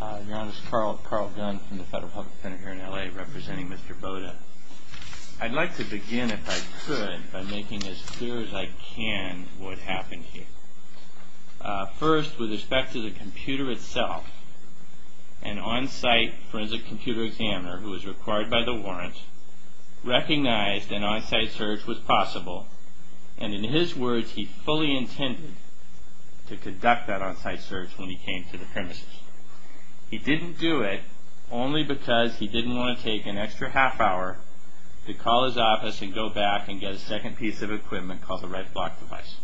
Your Honor, this is Carl Gunn from the Federal Public Defender here in L.A. representing Mr. Botta. I'd like to begin, if I could, by making as clear as I can what happened here. First, with respect to the computer itself, an on-site forensic computer examiner, who was required by the warrant, recognized an on-site search was possible, and in his words, he fully intended to conduct that on-site search when he came to the premises. He didn't do it only because he didn't want to take an extra half hour to call his office and go back and get a second piece of equipment called a red block device.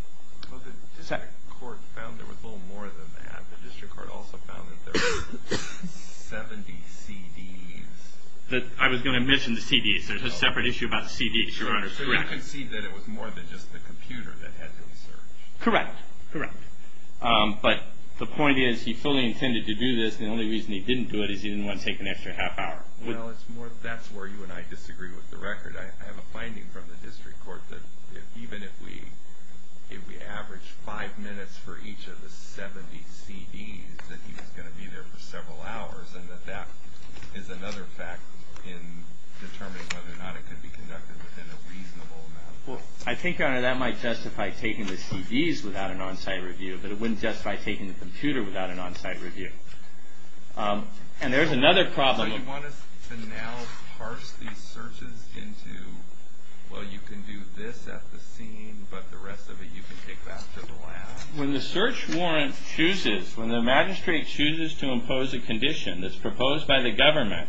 Well, the district court found there was a little more than that. The district court also found that there were 70 CDs. I was going to mention the CDs. There's a separate issue about the CDs, Your Honor. So you concede that it was more than just the computer that had been searched. Correct. But the point is, he fully intended to do this. The only reason he didn't do it is he didn't want to take an extra half hour. Well, that's where you and I disagree with the record. I have a finding from the district court that even if we averaged five minutes for each of the 70 CDs, that he was going to be there for several hours, and that that is another fact in determining whether or not it could be conducted within a reasonable amount of time. I think, Your Honor, that might justify taking the CDs without an on-site review, but it wouldn't justify taking the computer without an on-site review. And there's another problem. So you want us to now parse these searches into, well, you can do this at the scene, but the rest of it you can take back to the lab? When the search warrant chooses, when the magistrate chooses to impose a condition that's proposed by the government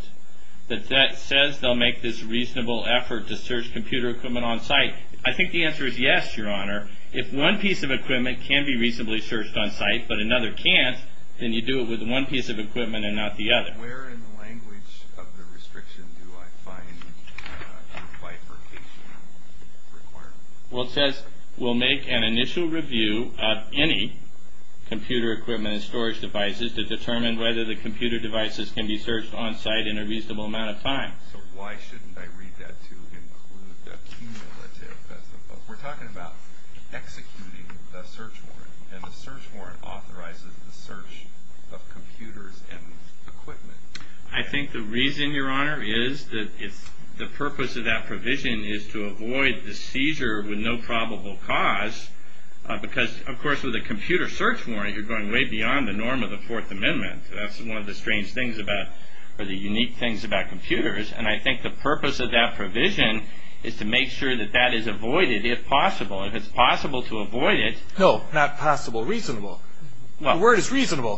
that says they'll make this reasonable effort to search computer equipment on-site, I think the answer is yes, Your Honor. If one piece of equipment can be reasonably searched on-site but another can't, then you do it with one piece of equipment and not the other. Where in the language of the restriction do I find the bifurcation requirement? Well, it says we'll make an initial review of any computer equipment and storage devices to determine whether the computer devices can be searched on-site in a reasonable amount of time. So why shouldn't I read that to include the cumulative? We're talking about executing the search warrant, and the search warrant authorizes the search of computers and equipment. I think the reason, Your Honor, is that the purpose of that provision is to avoid the seizure with no probable cause, because, of course, with a computer search warrant, you're going way beyond the norm of the Fourth Amendment. That's one of the strange things about, or the unique things about computers, and I think the purpose of that provision is to make sure that that is avoided, if possible. If it's possible to avoid it... No, not possible, reasonable. The word is reasonable.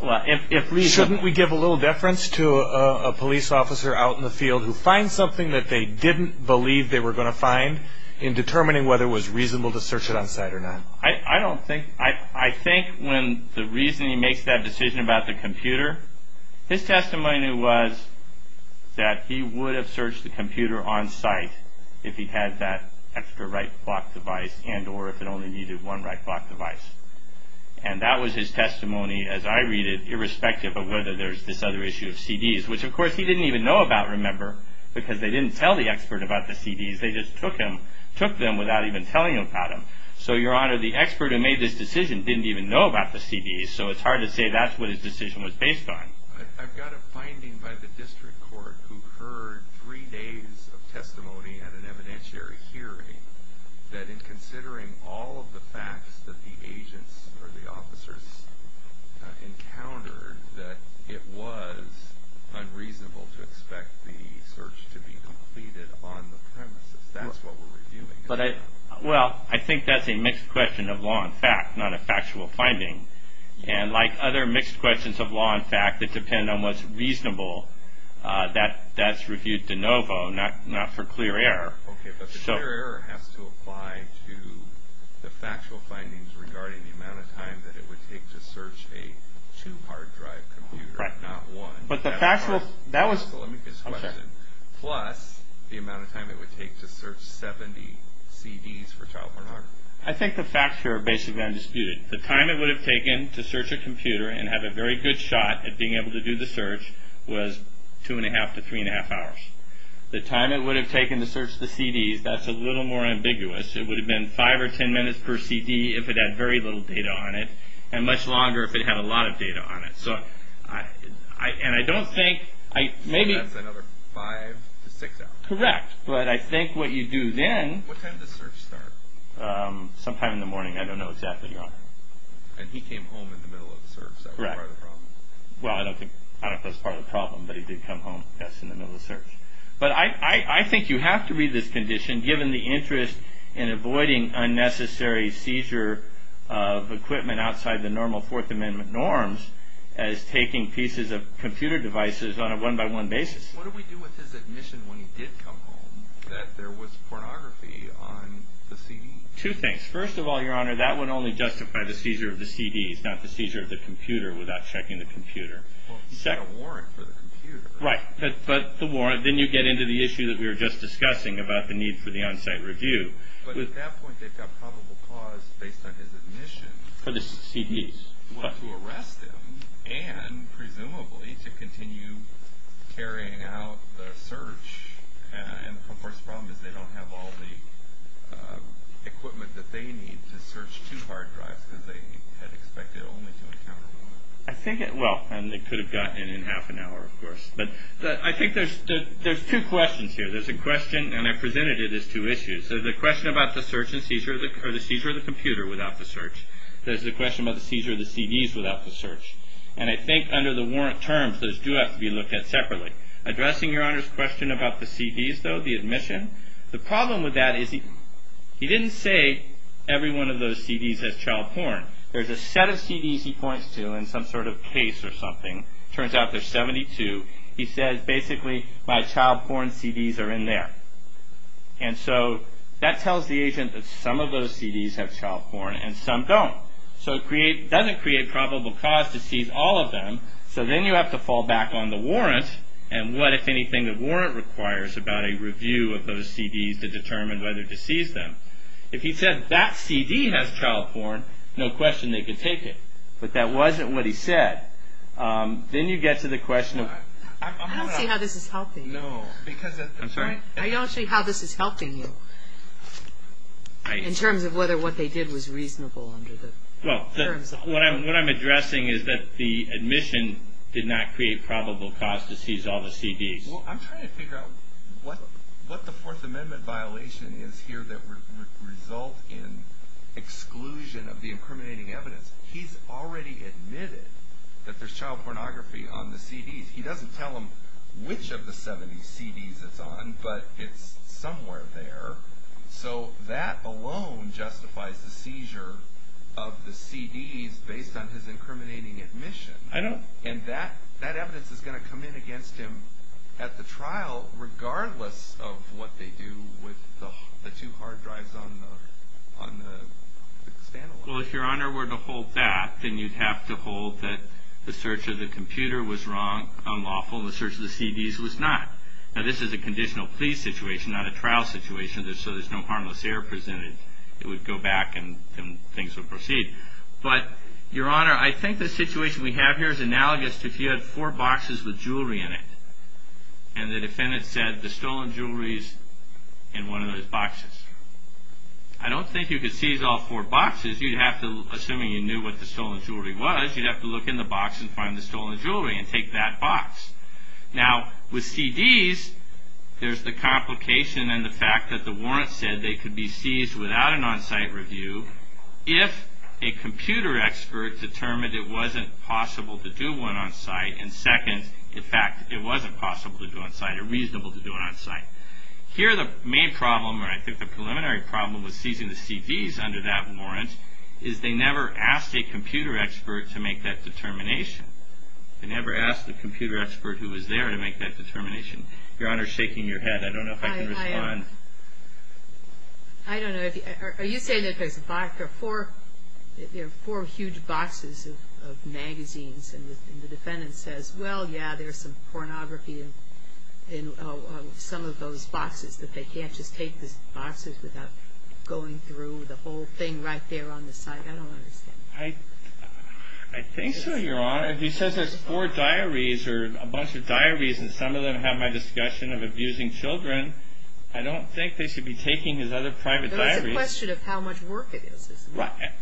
Shouldn't we give a little deference to a police officer out in the field who finds something that they didn't believe they were going to find in determining whether it was reasonable to search it on-site or not? I don't think... I think when the reason he makes that decision about the computer, his testimony was that he would have searched the computer on-site if he had that extra right clock device and or if it only needed one right clock device. And that was his testimony, as I read it, irrespective of whether there's this other issue of CDs, which, of course, he didn't even know about, remember, because they didn't tell the expert about the CDs. They just took them without even telling him about them. So, Your Honor, the expert who made this decision didn't even know about the CDs, so it's hard to say that's what his decision was based on. I've got a finding by the district court who heard three days of testimony at an evidentiary hearing that in considering all of the facts that the agents or the officers encountered, that it was unreasonable to expect the search to be completed on the premises. That's what we're reviewing. Well, I think that's a mixed question of law and fact, not a factual finding. And like other mixed questions of law and fact that depend on what's reasonable, that's reviewed de novo, not for clear error. Okay, but the clear error has to apply to the factual findings regarding the amount of time that it would take to search a two-hard drive computer, not one. But the factual, that was... Okay. Plus the amount of time it would take to search 70 CDs for child pornography. I think the facts here are basically undisputed. The time it would have taken to search a computer and have a very good shot at being able to do the search was 2 1⁄2 to 3 1⁄2 hours. The time it would have taken to search the CDs, that's a little more ambiguous. It would have been 5 or 10 minutes per CD if it had very little data on it, and much longer if it had a lot of data on it. And I don't think... So that's another 5 to 6 hours. Correct, but I think what you do then... What time does the search start? Sometime in the morning, I don't know exactly. And he came home in the middle of the search, so that's part of the problem. Well, I don't think that's part of the problem, but he did come home, yes, in the middle of the search. But I think you have to read this condition, given the interest in avoiding unnecessary seizure of equipment outside the normal Fourth Amendment norms as taking pieces of computer devices on a one-by-one basis. What do we do with his admission when he did come home that there was pornography on the CD? Two things. First of all, Your Honor, that would only justify the seizure of the CDs, not the seizure of the computer without checking the computer. Well, it's got a warrant for the computer. Right, but the warrant... Then you get into the issue that we were just discussing about the need for the on-site review. But at that point, they've got probable cause based on his admission. For the CDs. Well, to arrest him and, presumably, to continue carrying out the search. And of course, the problem is they don't have all the equipment that they need to search two hard drives because they had expected only to encounter one. Well, and they could have gotten it in half an hour, of course. But I think there's two questions here. There's a question, and I presented it as two issues. There's the question about the seizure of the computer without the search. There's the question about the seizure of the CDs without the search. And I think under the warrant terms, those do have to be looked at separately. Addressing Your Honor's question about the CDs, though, the admission, the problem with that is he didn't say every one of those CDs has child porn. There's a set of CDs he points to in some sort of case or something. Turns out there's 72. He says, basically, my child porn CDs are in there. And so that tells the agent that some of those CDs have child porn and some don't. So it doesn't create probable cause to seize all of them. So then you have to fall back on the warrant. And what, if anything, the warrant requires about a review of those CDs to determine whether to seize them. If he said that CD has child porn, no question they could take it. But that wasn't what he said. Then you get to the question of – I don't see how this is helping you. I'm sorry? I don't see how this is helping you in terms of whether what they did was reasonable under the terms of the warrant. What I'm addressing is that the admission did not create probable cause to seize all the CDs. Well, I'm trying to figure out what the Fourth Amendment violation is here that would result in exclusion of the incriminating evidence. He's already admitted that there's child pornography on the CDs. He doesn't tell him which of the 70 CDs it's on, but it's somewhere there. So that alone justifies the seizure of the CDs based on his incriminating admission. I know. And that evidence is going to come in against him at the trial regardless of what they do with the two hard drives on the stand alone. Well, if Your Honor were to hold that, then you'd have to hold that the search of the computer was wrong, unlawful, and the search of the CDs was not. Now, this is a conditional plea situation, not a trial situation. So there's no harmless error presented. It would go back and things would proceed. But, Your Honor, I think the situation we have here is analogous to if you had four boxes with jewelry in it and the defendant said, the stolen jewelry is in one of those boxes. I don't think you could seize all four boxes. You'd have to, assuming you knew what the stolen jewelry was, you'd have to look in the box and find the stolen jewelry and take that box. Now, with CDs, there's the complication and the fact that the warrant said they could be seized without an on-site review if a computer expert determined it wasn't possible to do one on-site. And second, in fact, it wasn't possible to do it on-site or reasonable to do it on-site. Here, the main problem, or I think the preliminary problem, with seizing the CDs under that warrant is they never asked a computer expert to make that determination. They never asked the computer expert who was there to make that determination. Your Honor is shaking your head. I don't know if I can respond. I don't know. Are you saying that there are four huge boxes of magazines and the defendant says, well, yeah, there's some pornography in some of those boxes, that they can't just take those boxes without going through the whole thing right there on the site? I don't understand. I think so, Your Honor. If he says there's four diaries or a bunch of diaries and some of them have my discussion of abusing children, I don't think they should be taking his other private diaries. It's a question of how much work it is.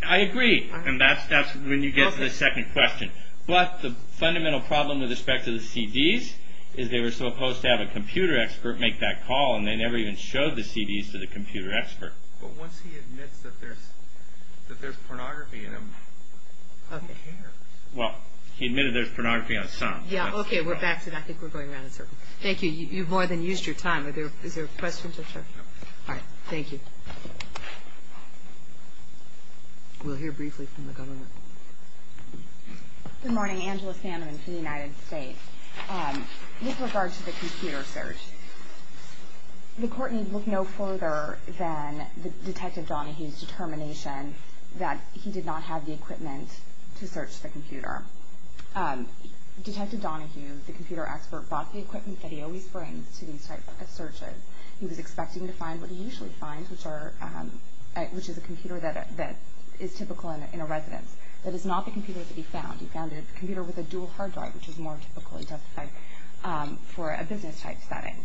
I agree. And that's when you get to the second question. But the fundamental problem with respect to the CDs is they were supposed to have a computer expert make that call, and they never even showed the CDs to the computer expert. But once he admits that there's pornography in them, who cares? Well, he admitted there's pornography on some. Yeah. Okay. We're back to that. I think we're going around in circles. Thank you. You've more than used your time. Is there a question? No. All right. Thank you. We'll hear briefly from the government. Good morning. Angela Sandeman from the United States. With regard to the computer search, the court need look no further than Detective Donahue's determination that he did not have the equipment to search the computer. Detective Donahue, the computer expert, brought the equipment that he always brings to these types of searches. He was expecting to find what he usually finds, which is a computer that is typical in a residence. That is not the computer that he found. He found a computer with a dual hard drive, which is more typical, he testified, for a business-type setting.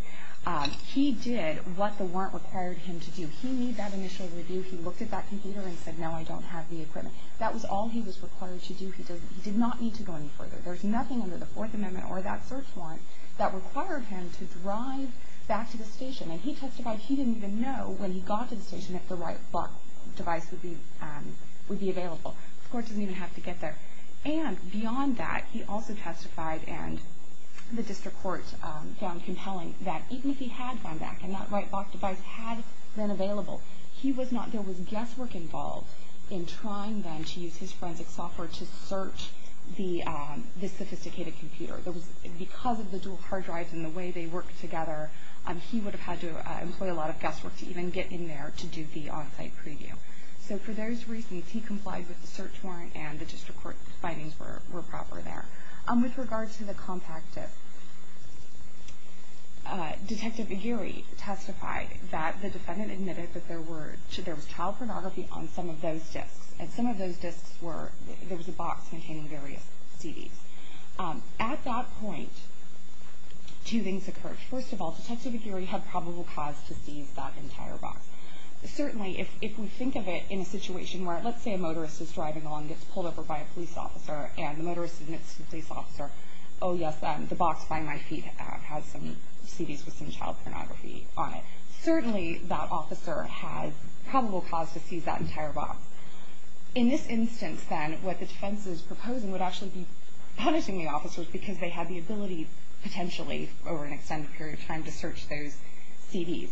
He did what the warrant required him to do. He made that initial review. He looked at that computer and said, no, I don't have the equipment. That was all he was required to do. He did not need to go any further. There's nothing under the Fourth Amendment or that search warrant that required him to drive back to the station. And he testified he didn't even know when he got to the station that the right device would be available. The court doesn't even have to get there. And beyond that, he also testified, and the district court found compelling, that even if he had gone back and that right box device had been available, there was guesswork involved in trying then to use his forensic software to search this sophisticated computer. Because of the dual hard drives and the way they work together, he would have had to employ a lot of guesswork to even get in there to do the on-site preview. So for those reasons, he complied with the search warrant and the district court findings were proper there. With regard to the compact disc, Detective Aguirre testified that the defendant admitted that there was child pornography on some of those discs. And some of those discs were, there was a box containing various CDs. At that point, two things occurred. First of all, Detective Aguirre had probable cause to seize that entire box. Certainly, if we think of it in a situation where, let's say a motorist is driving along and gets pulled over by a police officer, and the motorist admits to the police officer, oh yes, the box by my feet has some CDs with some child pornography on it. Certainly, that officer had probable cause to seize that entire box. In this instance, then, what the defense is proposing would actually be punishing the officers because they had the ability, potentially, over an extended period of time to search those CDs.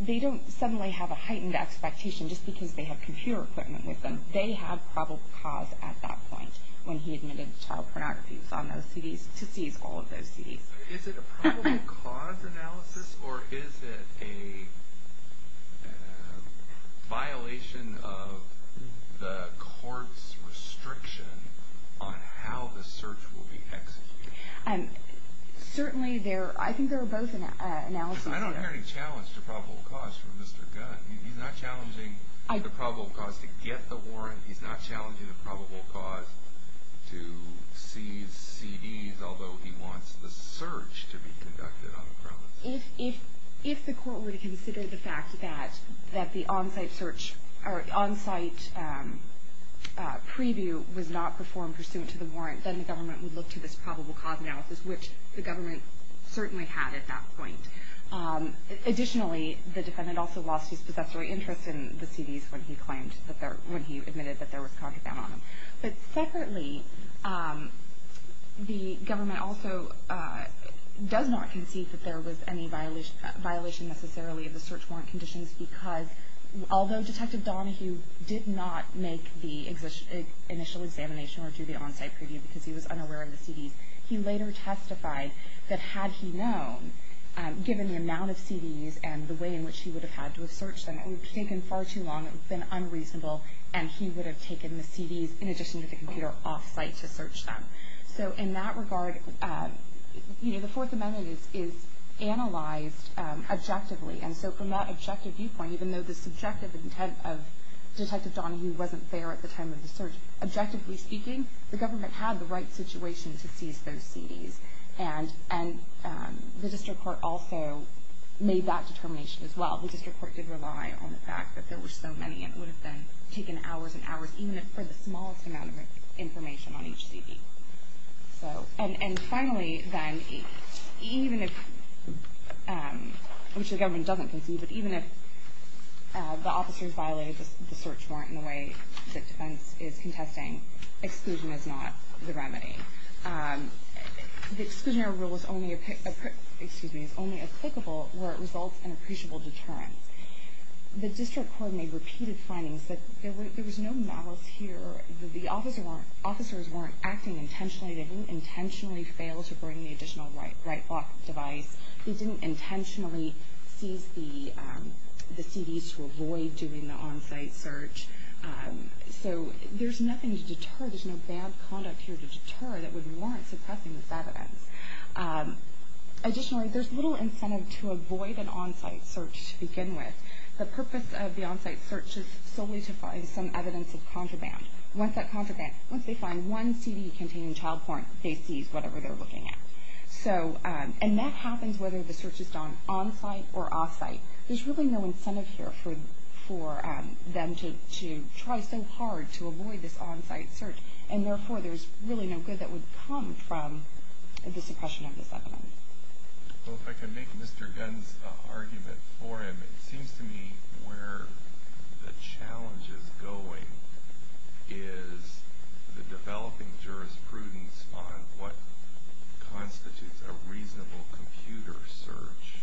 They don't suddenly have a heightened expectation just because they have computer equipment with them. They have probable cause at that point when he admitted child pornography on those CDs to seize all of those CDs. Is it a probable cause analysis or is it a violation of the court's restriction on how the search will be executed? Certainly, I think there are both analyses. I don't hear any challenge to probable cause from Mr. Gunn. He's not challenging the probable cause to get the warrant. He's not challenging the probable cause to seize CDs, although he wants the search to be conducted on the premise. If the court were to consider the fact that the on-site search or on-site preview was not performed pursuant to the warrant, then the government would look to this probable cause analysis, which the government certainly had at that point. Additionally, the defendant also lost his possessory interest in the CDs when he admitted that there was content on them. But separately, the government also does not concede that there was any violation, necessarily, of the search warrant conditions because although Detective Donahue did not make the initial examination or do the on-site preview because he was unaware of the CDs, he later testified that had he known, given the amount of CDs and the way in which he would have had to have searched them, it would have taken far too long, it would have been unreasonable, and he would have taken the CDs in addition to the computer off-site to search them. So in that regard, the Fourth Amendment is analyzed objectively. And so from that objective viewpoint, even though the subjective intent of Detective Donahue wasn't there at the time of the search, objectively speaking, the government had the right situation to seize those CDs. And the district court also made that determination as well. The district court did rely on the fact that there were so many and it would have then taken hours and hours, even for the smallest amount of information on each CD. And finally then, even if, which the government doesn't concede, but even if the officers violated the search warrant in the way that defense is contesting, exclusion is not the remedy. The exclusionary rule is only applicable where it results in appreciable deterrence. The district court made repeated findings that there was no malice here. The officers weren't acting intentionally. They didn't intentionally fail to bring the additional right block device. They didn't intentionally seize the CDs to avoid doing the on-site search. So there's nothing to deter. There's no bad conduct here to deter that would warrant suppressing this evidence. Additionally, there's little incentive to avoid an on-site search to begin with. The purpose of the on-site search is solely to find some evidence of contraband. Once that contraband, once they find one CD containing child porn, they seize whatever they're looking at. So, and that happens whether the search is done on-site or off-site. There's really no incentive here for them to try so hard to avoid this on-site search. And therefore, there's really no good that would come from the suppression of this evidence. Well, if I can make Mr. Gunn's argument for him, it seems to me where the challenge is going is the developing jurisprudence on what constitutes a reasonable computer search.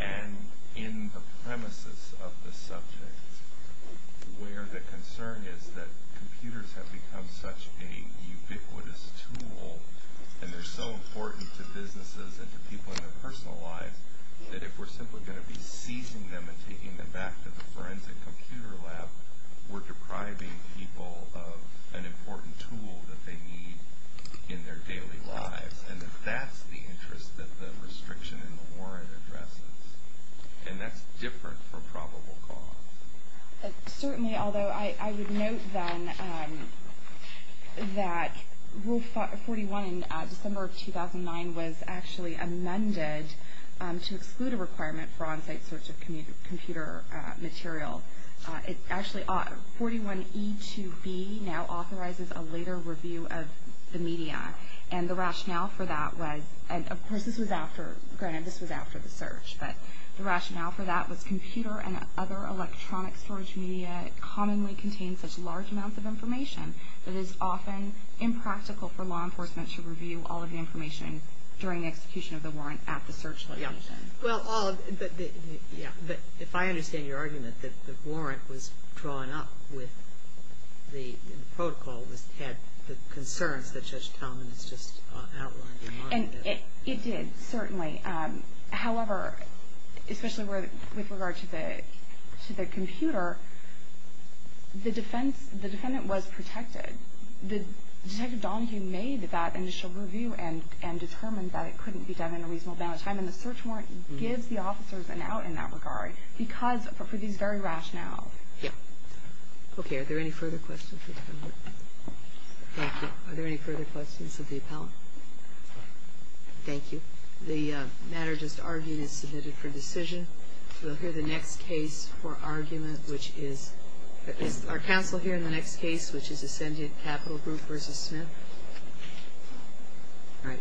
And in the premises of the subject, where the concern is that computers have become such a ubiquitous tool, and they're so important to businesses and to people in their personal lives, that if we're simply going to be seizing them and taking them back to the forensic computer lab, we're depriving people of an important tool that they need in their daily lives. And if that's the interest that the restriction in the warrant addresses, and that's different for probable cause. Certainly, although I would note then that Rule 41 in December of 2009 was actually amended to exclude a requirement for on-site search of computer material. Actually, 41E2B now authorizes a later review of the media. And the rationale for that was, and of course this was after, granted this was after the search, but the rationale for that was computer and other electronic storage media commonly contain such large amounts of information that it is often impractical for law enforcement to review all of the information during the execution of the warrant at the search location. But if I understand your argument that the warrant was drawn up with the protocol, it had the concerns that Judge Talman has just outlined. It did, certainly. However, especially with regard to the computer, the defendant was protected. Detective Donahue made that initial review and determined that it couldn't be done in a reasonable amount of time, and the search warrant gives the officers an out in that regard because of these very rationales. Yeah. Okay. Are there any further questions for the defendant? Thank you. Are there any further questions of the appellant? No. Thank you. The matter just argued is submitted for decision. We'll hear the next case for argument, which is our counsel here in the next case, which is Ascendant Capital Group v. Smith. All right. We'll hear that case.